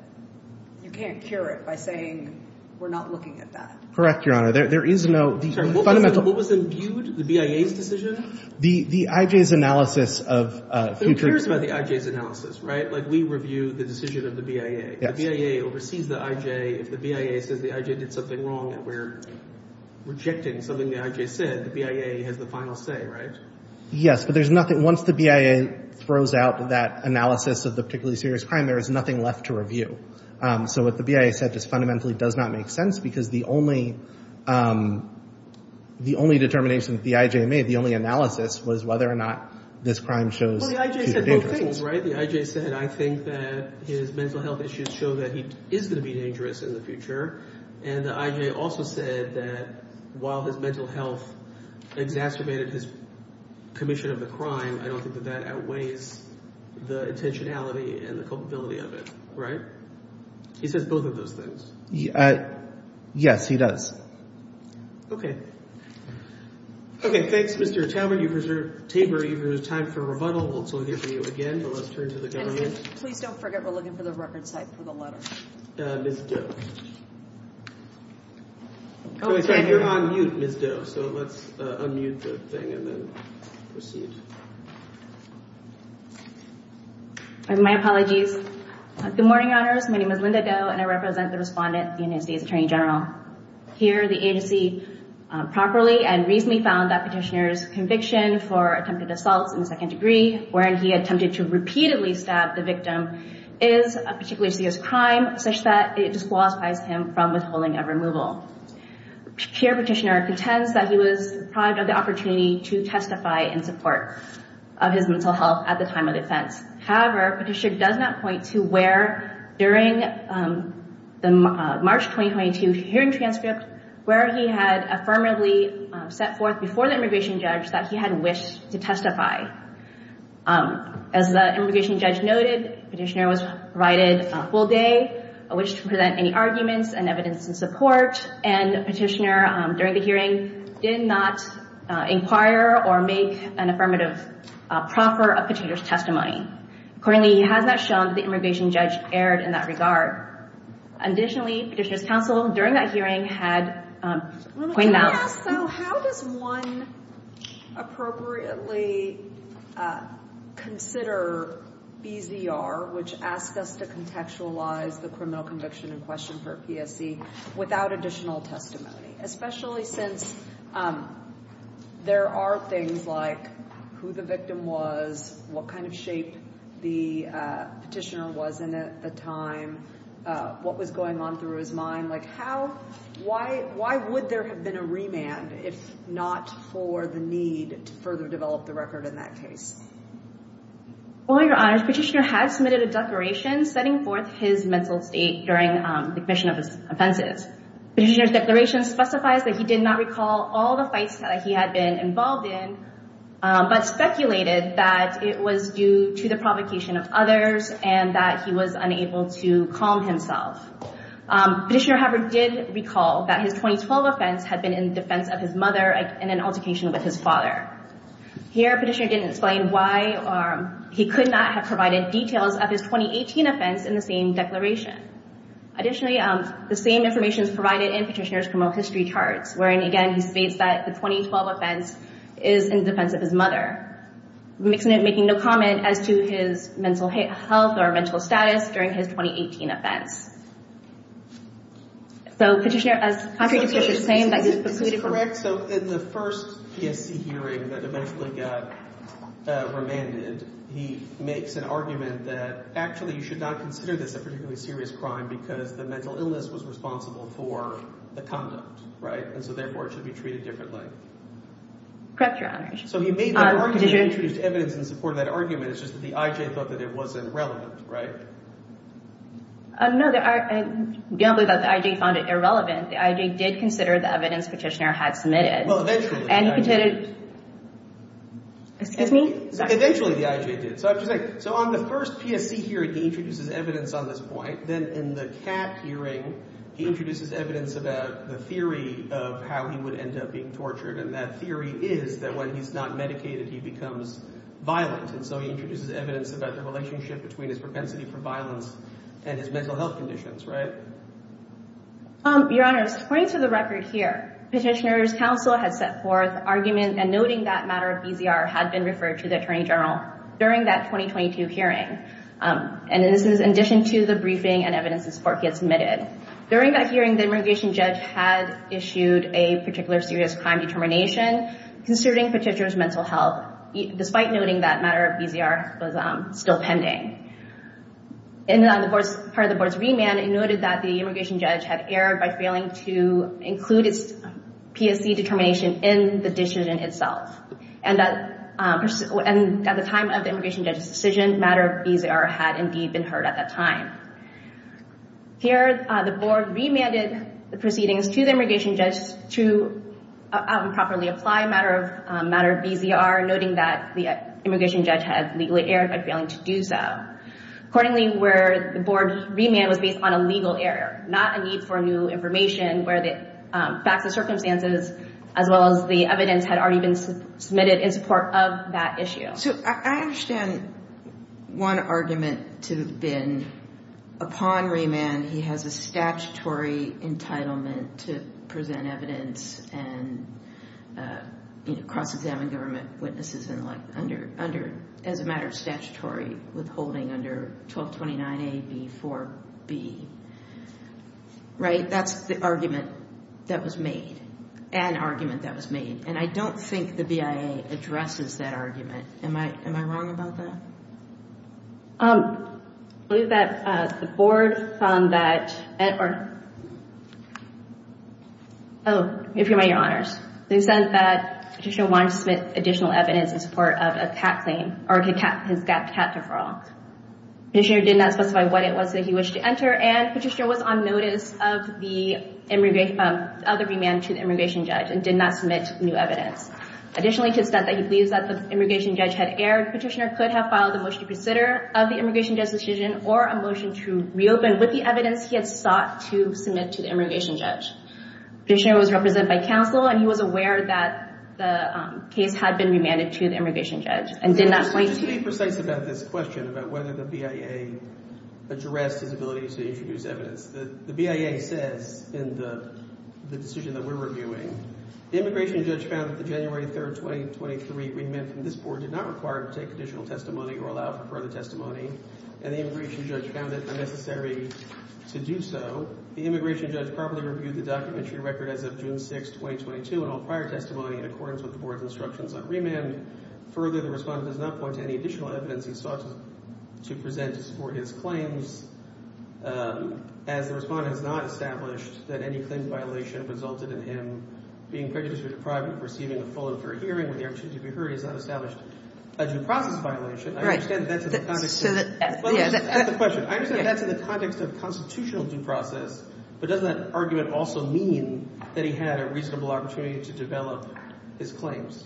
you can't cure it by saying we're not looking at that. Correct, Your Honor. There is no – What was imbued? The BIA's decision? The I.J.'s analysis of future – Who cares about the I.J.'s analysis, right? Like we review the decision of the BIA. The BIA oversees the I.J. If the BIA says the I.J. did something wrong and we're rejecting something the I.J. said, the BIA has the final say, right? Yes, but there's nothing – once the BIA throws out that analysis of the particularly serious crime, there is nothing left to review. So what the BIA said just fundamentally does not make sense because the only determination that the I.J. made, the only analysis, was whether or not this crime shows future dangers. Well, the I.J. said both things, right? The I.J. said I think that his mental health issues show that he is going to be dangerous in the future, and the I.J. also said that while his mental health exacerbated his commission of the crime, I don't think that that outweighs the intentionality and the culpability of it, right? He says both of those things. Yes, he does. Okay, thanks, Mr. Taubman. You've reserved – Tabor, you've reserved time for rebuttal. We'll turn to you again, but let's turn to the government. And please don't forget we're looking for the record site for the letter. Ms. Doe. Oh, sorry. You're on mute, Ms. Doe, so let's unmute the thing and then proceed. My apologies. Good morning, Honors. My name is Linda Doe, and I represent the respondent, the United States Attorney General. Here, the agency properly and reasonably found that Petitioner's conviction for attempted assaults in the second degree, wherein he attempted to repeatedly stab the victim, is a particularly serious crime, such that it disqualifies him from withholding a removal. Here, Petitioner contends that he was deprived of the opportunity to testify in support of his mental health at the time of defense. However, Petitioner does not point to where during the March 2022 hearing transcript where he had affirmatively set forth before the immigration judge that he had wished to testify. As the immigration judge noted, Petitioner was provided a full day, which didn't present any arguments and evidence in support, and Petitioner, during the hearing, did not inquire or make an affirmative proffer of Petitioner's testimony. Accordingly, he has not shown that the immigration judge erred in that regard. Additionally, Petitioner's counsel during that hearing had pointed out- Yeah, so how does one appropriately consider BZR, which asks us to contextualize the criminal conviction in question for a PSC, without additional testimony? Especially since there are things like who the victim was, what kind of shape the Petitioner was in at the time, what was going on through his mind. Why would there have been a remand if not for the need to further develop the record in that case? Well, Your Honor, Petitioner had submitted a declaration setting forth his mental state during the commission of his offenses. Petitioner's declaration specifies that he did not recall all the fights that he had been involved in, but speculated that it was due to the provocation of others and that he was unable to calm himself. Petitioner, however, did recall that his 2012 offense had been in defense of his mother and an altercation with his father. Here, Petitioner didn't explain why he could not have provided details of his 2018 offense in the same declaration. Additionally, the same information is provided in Petitioner's criminal history charts, wherein, again, he states that the 2012 offense is in defense of his mother, making no comment as to his mental health or mental status during his 2018 offense. So Petitioner, as contrary to what you're saying, that he's precluded from- Correct. So in the first PSC hearing that eventually got remanded, he makes an argument that actually you should not consider this a particularly serious crime because the mental illness was responsible for the conduct, right? And so, therefore, it should be treated differently. Correct, Your Honor. So he made that argument. He introduced evidence in support of that argument. It's just that the I.J. thought that it wasn't relevant, right? No, I don't believe that the I.J. found it irrelevant. The I.J. did consider the evidence Petitioner had submitted. Well, eventually, the I.J. And he considered- Excuse me? Eventually, the I.J. did. So on the first PSC hearing, he introduces evidence on this point. Then in the CAP hearing, he introduces evidence about the theory of how he would end up being tortured. And that theory is that when he's not medicated, he becomes violent. And so he introduces evidence about the relationship between his propensity for violence and his mental health conditions, right? Your Honor, according to the record here, Petitioner's counsel had set forth argument and noting that matter of BZR had been referred to the Attorney General. During that 2022 hearing, and this is in addition to the briefing and evidence in support he had submitted. During that hearing, the immigration judge had issued a particular serious crime determination considering Petitioner's mental health, despite noting that matter of BZR was still pending. And then on the part of the board's remand, it noted that the immigration judge had erred by failing to include its PSC determination in the decision itself. And at the time of the immigration judge's decision, matter of BZR had indeed been heard at that time. Here, the board remanded the proceedings to the immigration judge to improperly apply matter of BZR, noting that the immigration judge had legally erred by failing to do so. Accordingly, where the board remand was based on a legal error, not a need for new information where the facts and circumstances as well as the evidence had already been submitted in support of that issue. So I understand one argument to have been upon remand, he has a statutory entitlement to present evidence and cross-examine government witnesses as a matter of statutory withholding under 1229A, B4B. Right? That's the argument that was made, an argument that was made. And I don't think the BIA addresses that argument. Am I wrong about that? I believe that the board found that... Oh, if you'll remind your honors. They said that Petitioner wanted to submit additional evidence in support of a cat claim or his cat deferral. Petitioner did not specify what it was that he wished to enter, and Petitioner was on notice of the remand to the immigration judge and did not submit new evidence. Additionally, to the extent that he believes that the immigration judge had erred, Petitioner could have filed a motion to consider of the immigration judge's decision or a motion to reopen with the evidence he had sought to submit to the immigration judge. Petitioner was represented by counsel, and he was aware that the case had been remanded to the immigration judge and did not wait to... Just to be precise about this question, about whether the BIA addressed his ability to introduce evidence, the BIA says in the decision that we're reviewing, the immigration judge found that the January 3, 2023 remand from this board did not require to take additional testimony or allow for further testimony, and the immigration judge found it unnecessary to do so. The immigration judge properly reviewed the documentary record as of June 6, 2022, and all prior testimony in accordance with the board's instructions on remand. Further, the respondent does not point to any additional evidence he sought to present to support his claims. As the respondent has not established that any claim violation resulted in him being prejudiced or deprived of receiving a full and fair hearing with the option to be heard, he has not established a due process violation. I understand that that's in the context of constitutional due process, but doesn't that argument also mean that he had a reasonable opportunity to develop his claims?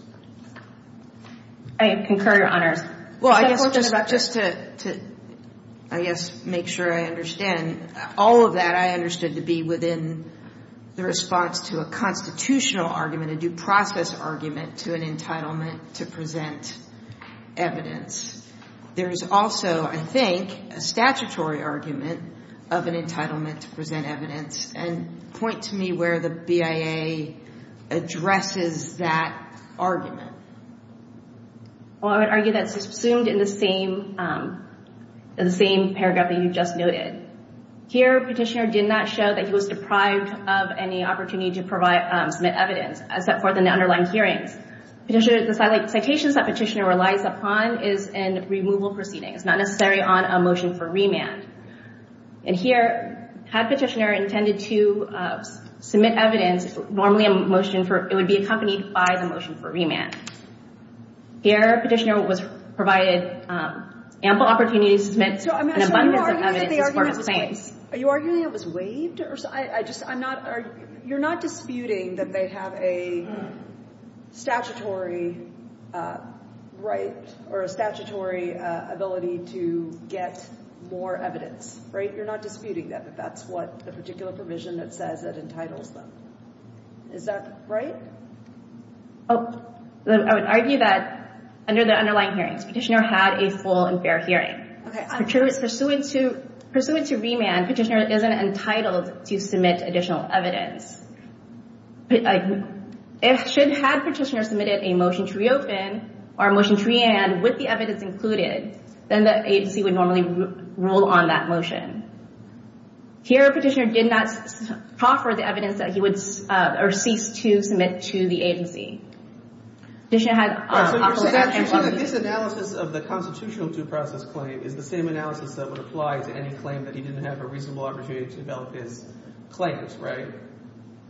I concur, Your Honors. Well, I guess just to, I guess, make sure I understand. All of that I understood to be within the response to a constitutional argument, a due process argument to an entitlement to present evidence. There is also, I think, a statutory argument of an entitlement to present evidence, and point to me where the BIA addresses that argument. Well, I would argue that's assumed in the same paragraph that you just noted. Here, Petitioner did not show that he was deprived of any opportunity to submit evidence, except for the underlying hearings. Petitioner, the citations that Petitioner relies upon is in removal proceedings, not necessarily on a motion for remand. And here, had Petitioner intended to submit evidence, normally a motion for, it would be accompanied by the motion for remand. Here, Petitioner was provided ample opportunity to submit an abundance of evidence as part of the claims. Are you arguing it was waived? You're not disputing that they have a statutory right or a statutory ability to get more evidence, right? You're not disputing that, but that's what the particular provision that says that entitles them. Is that right? I would argue that under the underlying hearings, Petitioner had a full and fair hearing. Pursuant to remand, Petitioner isn't entitled to submit additional evidence. If Petitioner had submitted a motion to reopen or a motion to remand with the evidence included, then the agency would normally rule on that motion. Here, Petitioner did not offer the evidence that he would cease to submit to the agency. So you're saying that this analysis of the constitutional due process claim is the same analysis that would apply to any claim that he didn't have a reasonable opportunity to develop his claims, right?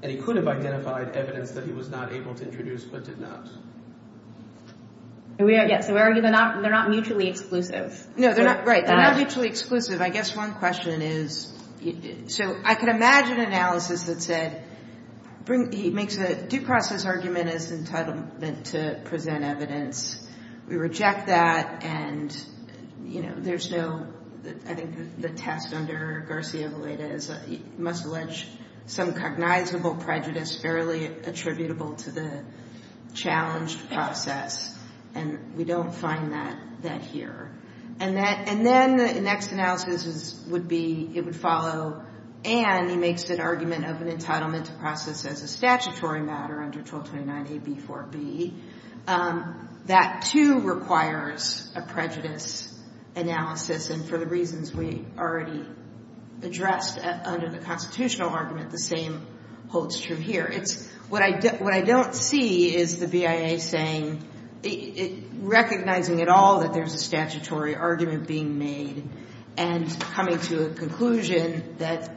And he could have identified evidence that he was not able to introduce but did not. So we argue they're not mutually exclusive. No, they're not mutually exclusive. I guess one question is, so I can imagine analysis that said, he makes a due process argument as entitlement to present evidence. We reject that, and, you know, there's no, I think the test under Garcia-Vallada is he must allege some cognizable prejudice fairly attributable to the challenged process. And we don't find that here. And then the next analysis would be, it would follow, and he makes an argument of an entitlement to process as a statutory matter under 1229A.B.4.B. That, too, requires a prejudice analysis, and for the reasons we already addressed under the constitutional argument, the same holds true here. What I don't see is the BIA saying, recognizing at all that there's a statutory argument being made and coming to a conclusion that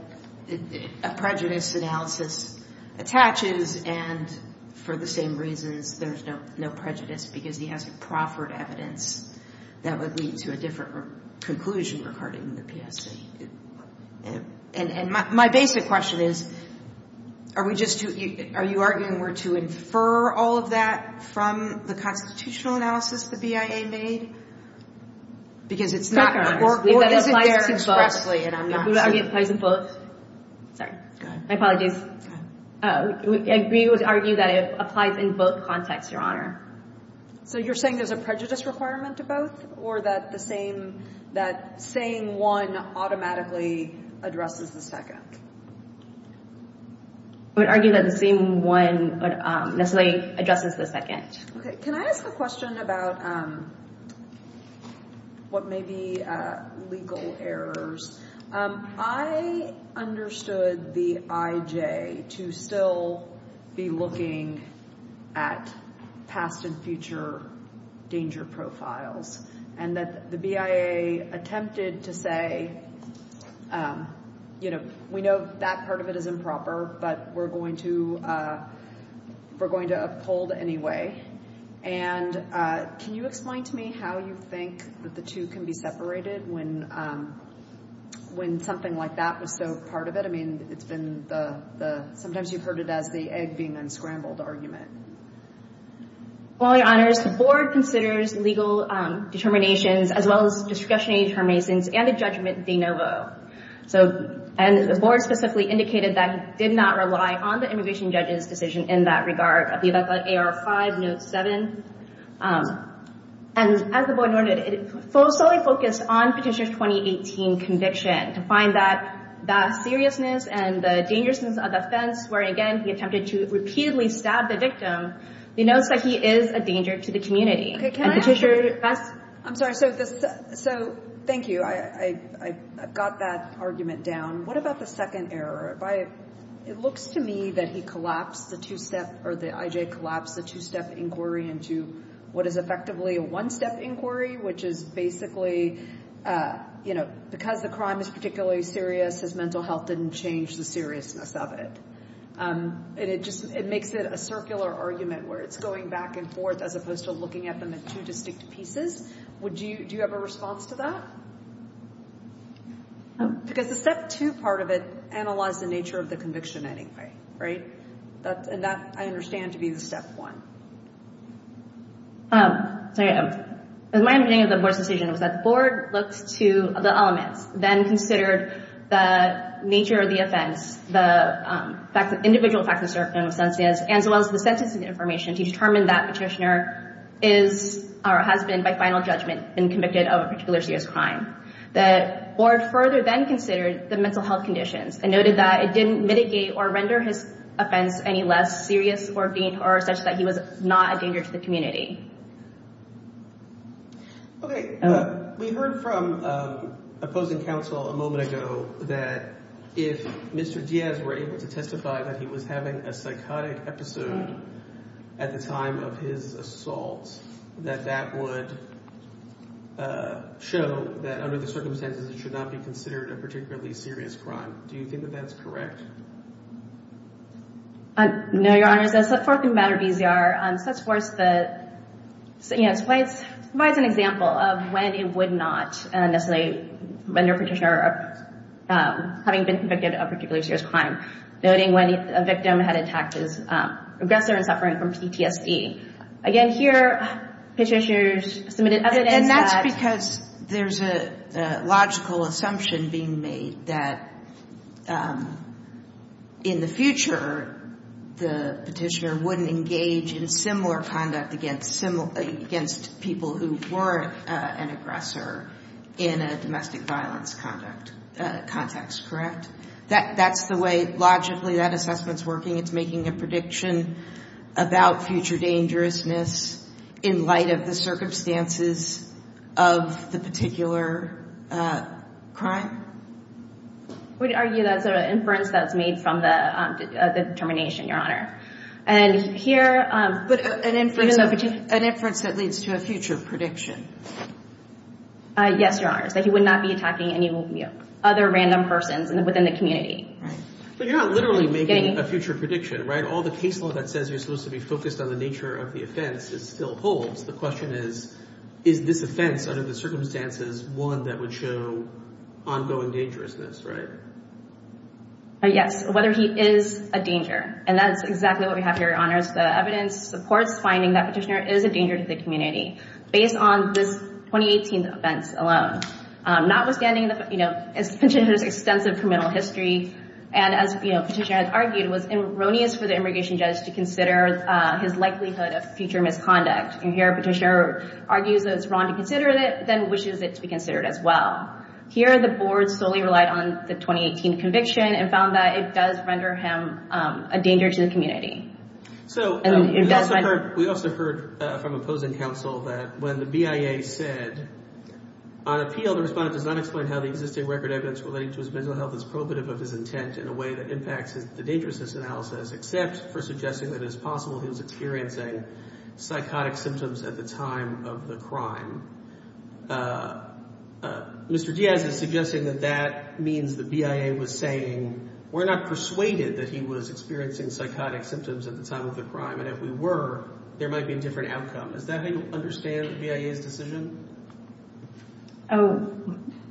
a prejudice analysis attaches, and for the same reasons there's no prejudice because he has proffered evidence that would lead to a different conclusion regarding the PSC. And my basic question is, are we just, are you arguing we're to infer all of that from the constitutional analysis the BIA made? Because it's not, or is it there expressly, and I'm not sure. We would argue it applies in both. Sorry. Go ahead. My apologies. Go ahead. We would argue that it applies in both contexts, Your Honor. So you're saying there's a prejudice requirement to both, or that the same, that saying one automatically addresses the second? We would argue that the same one necessarily addresses the second. Okay. Can I ask a question about what may be legal errors? I understood the IJ to still be looking at past and future danger profiles, and that the BIA attempted to say, you know, we know that part of it is improper, but we're going to uphold anyway. And can you explain to me how you think that the two can be separated when something like that was so part of it? I mean, it's been the, sometimes you've heard it as the egg being unscrambled argument. Well, Your Honors, the Board considers legal determinations as well as discretionary determinations and a judgment de novo. And the Board specifically indicated that it did not rely on the immigration judge's decision in that regard, the AR-5, Note 7. And as the Board noted, it solely focused on Petitioner's 2018 conviction to find that that seriousness and the dangerousness of the offense, where, again, he attempted to repeatedly stab the victim, denotes that he is a danger to the community. Okay. Can I ask? I'm sorry. So thank you. I got that argument down. What about the second error? It looks to me that he collapsed the two-step, or that I.J. collapsed the two-step inquiry into what is effectively a one-step inquiry, which is basically, you know, because the crime is particularly serious, his mental health didn't change the seriousness of it. And it makes it a circular argument where it's going back and forth as opposed to looking at them in two distinct pieces. Do you have a response to that? Because the step two part of it analyzed the nature of the conviction anyway, right? And that, I understand, to be the step one. My understanding of the Board's decision was that the Board looked to the elements, then considered the nature of the offense, the individual facts and circumstances, as well as the sentencing information, to determine that Petitioner is or has been, by final judgment, been convicted of a particular serious crime. The Board further then considered the mental health conditions and noted that it didn't mitigate or render his offense any less serious or such that he was not a danger to the community. Okay. We heard from opposing counsel a moment ago that if Mr. Diaz were able to testify that he was having a psychotic episode at the time of his assault, that that would show that under the circumstances it should not be considered a particularly serious crime. Do you think that that's correct? No, Your Honor. As far as the matter of EZR, it provides an example of when it would not necessarily render Petitioner having been convicted of a particular serious crime, noting when a victim had attacked his aggressor in suffering from PTSD. Again, here Petitioner submitted evidence that... And that's because there's a logical assumption being made that in the future, the Petitioner wouldn't engage in similar conduct against people who weren't an aggressor in a domestic violence context, correct? That's the way logically that assessment's working. It's making a prediction about future dangerousness in light of the circumstances of the particular crime? I would argue that's an inference that's made from the determination, Your Honor. And here... But an inference that leads to a future prediction. Yes, Your Honor. That he would not be attacking any other random persons within the community. Right. But you're not literally making a future prediction, right? All the case law that says you're supposed to be focused on the nature of the offense still holds. The question is, is this offense under the circumstances one that would show ongoing dangerousness, right? Yes. Whether he is a danger. And that's exactly what we have here, Your Honor. The evidence supports finding that Petitioner is a danger to the community. Based on this 2018 offense alone. Notwithstanding Petitioner's extensive criminal history. And as Petitioner had argued, it was erroneous for the immigration judge to consider his likelihood of future misconduct. And here Petitioner argues that it's wrong to consider it, then wishes it to be considered as well. Here the board solely relied on the 2018 conviction and found that it does render him a danger to the community. So, we also heard from opposing counsel that when the BIA said, On appeal, the respondent does not explain how the existing record evidence relating to his mental health is probative of his intent in a way that impacts the dangerousness analysis. Except for suggesting that it is possible he was experiencing psychotic symptoms at the time of the crime. Mr. Diaz is suggesting that that means the BIA was saying, We're not persuaded that he was experiencing psychotic symptoms at the time of the crime. And if we were, there might be a different outcome. Is that how you understand the BIA's decision? Oh,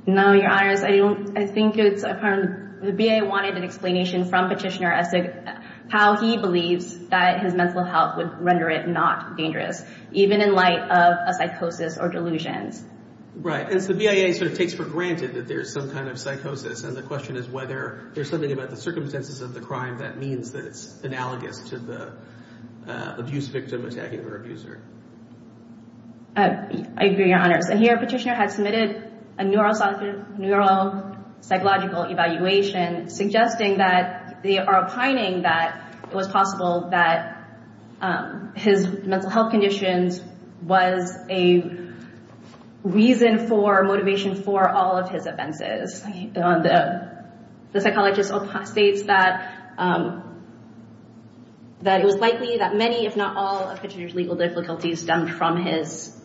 no, Your Honor. I think it's apparent the BIA wanted an explanation from Petitioner as to how he believes that his mental health would render it not dangerous. Even in light of a psychosis or delusions. Right, and so the BIA sort of takes for granted that there's some kind of psychosis. And the question is whether there's something about the circumstances of the crime that means that it's analogous to the abuse victim attacking the abuser. I agree, Your Honor. And here Petitioner had submitted a neuropsychological evaluation suggesting that they are opining that it was possible that his mental health conditions was a reason for motivation for all of his offenses. The psychologist states that it was likely that many, if not all, of Petitioner's legal difficulties stemmed from his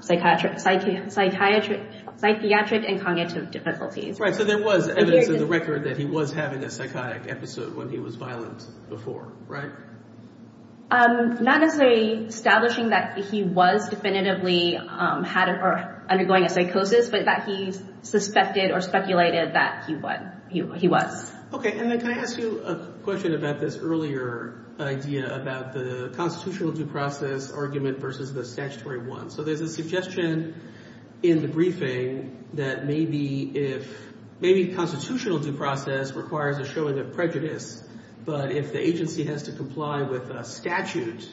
psychiatric and cognitive difficulties. Right, so there was evidence in the record that he was having a psychotic episode when he was violent before, right? Not as establishing that he was definitively undergoing a psychosis, but that he suspected or speculated that he was. Okay, and then can I ask you a question about this earlier idea about the constitutional due process argument versus the statutory one? So there's a suggestion in the briefing that maybe constitutional due process requires a showing of prejudice. But if the agency has to comply with a statute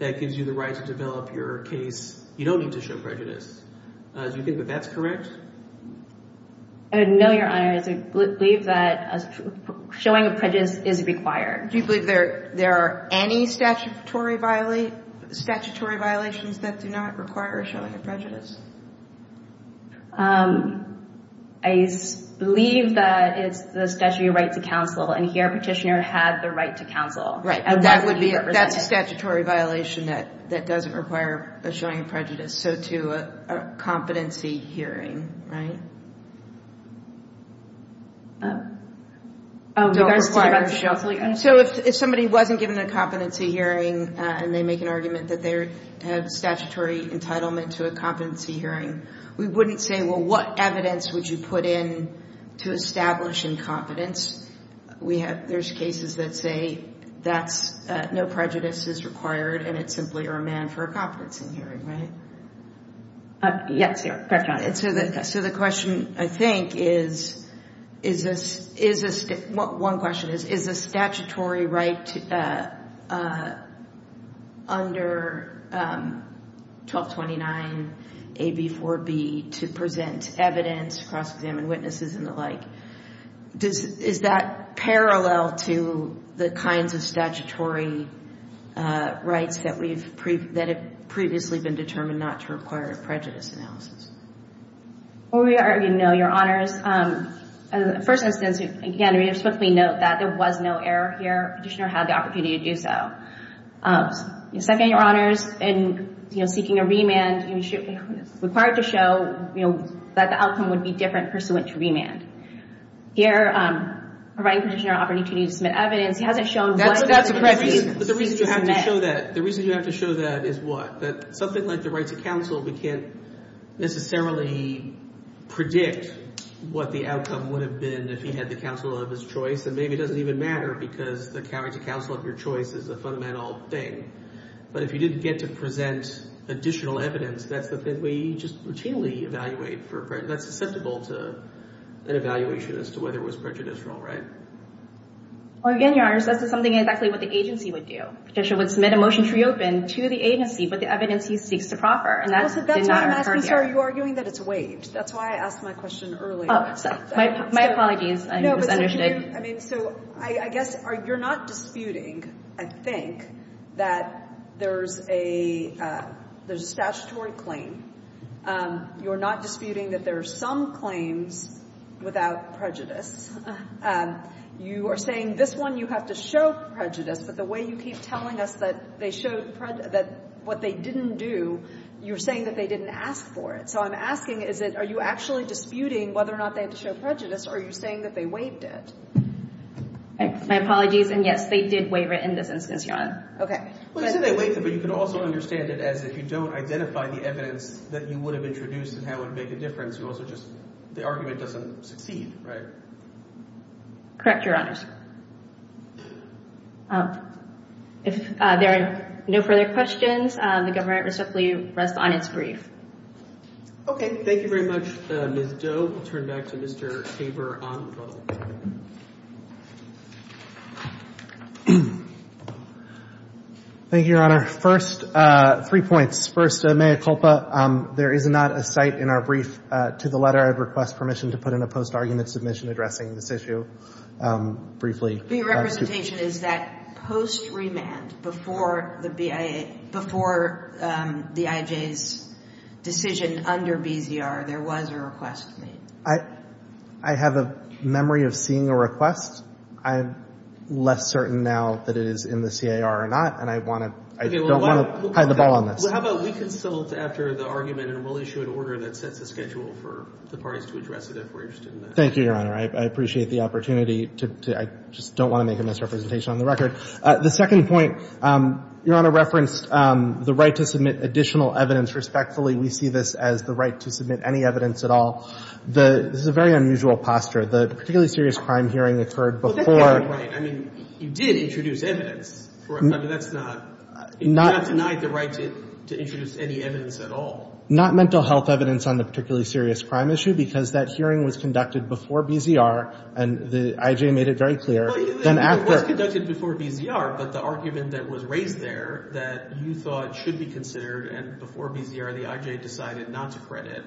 that gives you the right to develop your case, you don't need to show prejudice. Do you think that that's correct? No, Your Honor. I believe that showing of prejudice is required. Do you believe there are any statutory violations that do not require a showing of prejudice? I believe that it's the statutory right to counsel, and here Petitioner had the right to counsel. Right, but that's a statutory violation that doesn't require a showing of prejudice, so to a competency hearing, right? So if somebody wasn't given a competency hearing and they make an argument that they have statutory entitlement to a competency hearing, we wouldn't say, well, what evidence would you put in to establish incompetence? There's cases that say no prejudice is required, and it's simply a remand for a competency hearing, right? Yes, Your Honor. So the question, I think, is, one question is, is a statutory right under 1229 AB 4B to present evidence, cross-examine witnesses and the like, is that parallel to the kinds of statutory rights that have previously been determined not to require a prejudice analysis? Well, we argue, no, Your Honors. First instance, again, we would simply note that there was no error here. Petitioner had the opportunity to do so. Second, Your Honors, in seeking a remand, it's required to show that the outcome would be different pursuant to remand. Here, a right petitioner offered an opportunity to submit evidence. He hasn't shown why. That's a prejudice. But the reason you have to show that, the reason you have to show that is what? That something like the right to counsel, we can't necessarily predict what the outcome would have been if he had the counsel of his choice, and maybe it doesn't even matter because the right to counsel of your choice is a fundamental thing. But if you didn't get to present additional evidence, that's the way you just routinely evaluate for prejudice. That's susceptible to an evaluation as to whether it was prejudicial, right? Well, again, Your Honors, this is something exactly what the agency would do. Petitioner would submit a motion to reopen to the agency, but the evidence he seeks to proffer, and that did not occur here. That's why I'm asking, sorry, you're arguing that it's waived. That's why I asked my question earlier. My apologies. I misunderstood. I mean, so I guess you're not disputing, I think, that there's a statutory claim. You're not disputing that there are some claims without prejudice. You are saying this one you have to show prejudice, but the way you keep telling us that what they didn't do, you're saying that they didn't ask for it. So I'm asking, are you actually disputing whether or not they had to show prejudice, or are you saying that they waived it? My apologies, and yes, they did waive it in this instance, Your Honor. Well, you said they waived it, but you can also understand it as if you don't identify the evidence that you would have introduced and how it would make a difference. You also just – the argument doesn't succeed, right? Correct, Your Honors. If there are no further questions, the government respectfully rests on its brief. Okay. Thank you very much, Ms. Doe. I'll turn it back to Mr. Tabor on the phone. Thank you, Your Honor. First, three points. First, Mayor Culpa, there is not a cite in our brief to the letter. I'd request permission to put in a post-argument submission addressing this issue. Briefly. Your representation is that post-remand, before the BIA – before the IJ's decision under BZR, there was a request made. I have a memory of seeing a request. I'm less certain now that it is in the CAR or not, and I want to – I don't want to pie the ball on this. Well, how about we consult after the argument, and we'll issue an order that sets a schedule for the parties to address it if we're interested in that. Thank you, Your Honor. I appreciate the opportunity to – I just don't want to make a misrepresentation on the record. The second point, Your Honor referenced the right to submit additional evidence. Respectfully, we see this as the right to submit any evidence at all. This is a very unusual posture. The particularly serious crime hearing occurred before – Well, that's not right. I mean, you did introduce evidence, correct? I mean, that's not – you did not deny the right to introduce any evidence at all. Well, not mental health evidence on the particularly serious crime issue because that hearing was conducted before BZR, and the IJ made it very clear. Well, it was conducted before BZR, but the argument that was raised there that you thought should be considered and before BZR the IJ decided not to credit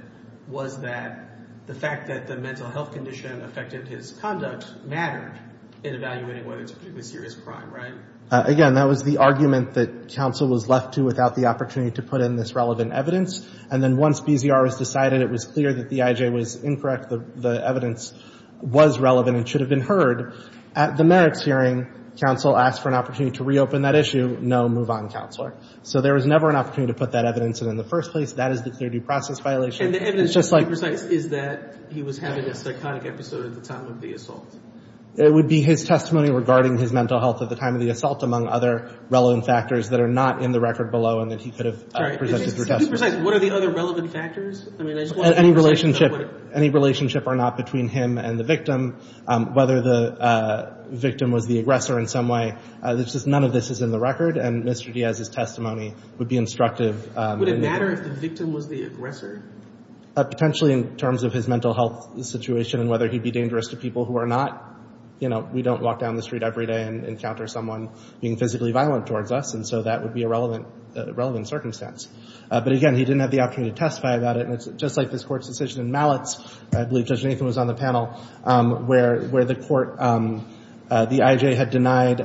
was that the fact that the mental health condition affected his conduct mattered in evaluating whether it's a particularly serious crime, right? Again, that was the argument that counsel was left to without the opportunity to put in this relevant evidence. And then once BZR has decided it was clear that the IJ was incorrect, the evidence was relevant and should have been heard, at the merits hearing counsel asked for an opportunity to reopen that issue, no, move on, counselor. So there was never an opportunity to put that evidence in in the first place. That is the clear due process violation. And the evidence, to be precise, is that he was having a psychotic episode at the time of the assault. It would be his testimony regarding his mental health at the time of the assault, among other relevant factors that are not in the record below and that he could have presented for testimony. To be precise, what are the other relevant factors? Any relationship or not between him and the victim, whether the victim was the aggressor in some way. None of this is in the record, and Mr. Diaz's testimony would be instructive. Would it matter if the victim was the aggressor? Potentially in terms of his mental health situation and whether he'd be dangerous to people who are not. You know, we don't walk down the street every day and encounter someone being physically violent towards us, and so that would be a relevant circumstance. But again, he didn't have the opportunity to testify about it. And it's just like this Court's decision in Malletz, I believe Judge Nathan was on the panel, where the court, the IJ had denied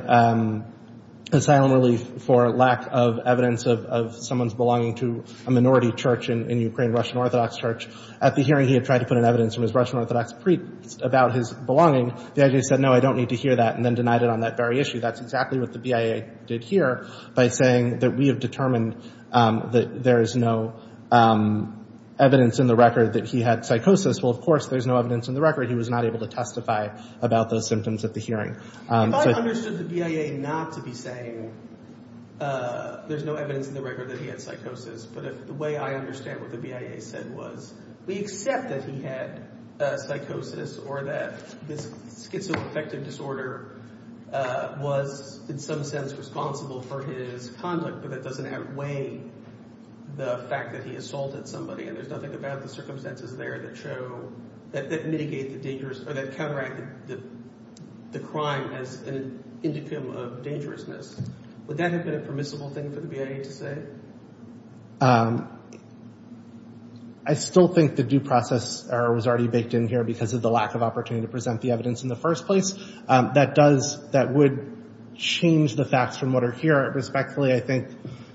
asylum relief for lack of evidence of someone's belonging to a minority church in Ukraine, Russian Orthodox Church. At the hearing, he had tried to put in evidence from his Russian Orthodox priest about his belonging. The IJ said, no, I don't need to hear that, and then denied it on that very issue. That's exactly what the BIA did here by saying that we have determined that there is no evidence in the record that he had psychosis. Well, of course there's no evidence in the record. He was not able to testify about those symptoms at the hearing. If I understood the BIA not to be saying there's no evidence in the record that he had psychosis, but if the way I understand what the BIA said was we accept that he had psychosis or that this schizoaffective disorder was in some sense responsible for his conduct, but that doesn't outweigh the fact that he assaulted somebody, and there's nothing about the circumstances there that show – that mitigate the dangerous – or that counteract the crime as an indicum of dangerousness, would that have been a permissible thing for the BIA to say? I still think the due process error was already baked in here because of the lack of opportunity to present the evidence in the first place. That does – that would change the facts from what are here. Respectfully, I think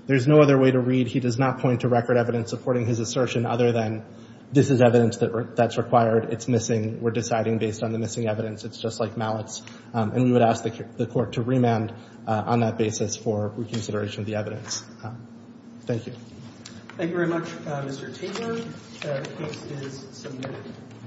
there's no other way to read he does not point to record evidence supporting his assertion other than this is evidence that's required. It's missing. We're deciding based on the missing evidence. It's just like mallets. And we would ask the court to remand on that basis for reconsideration of the evidence. Thank you. Thank you very much, Mr. Taylor. The case is submitted.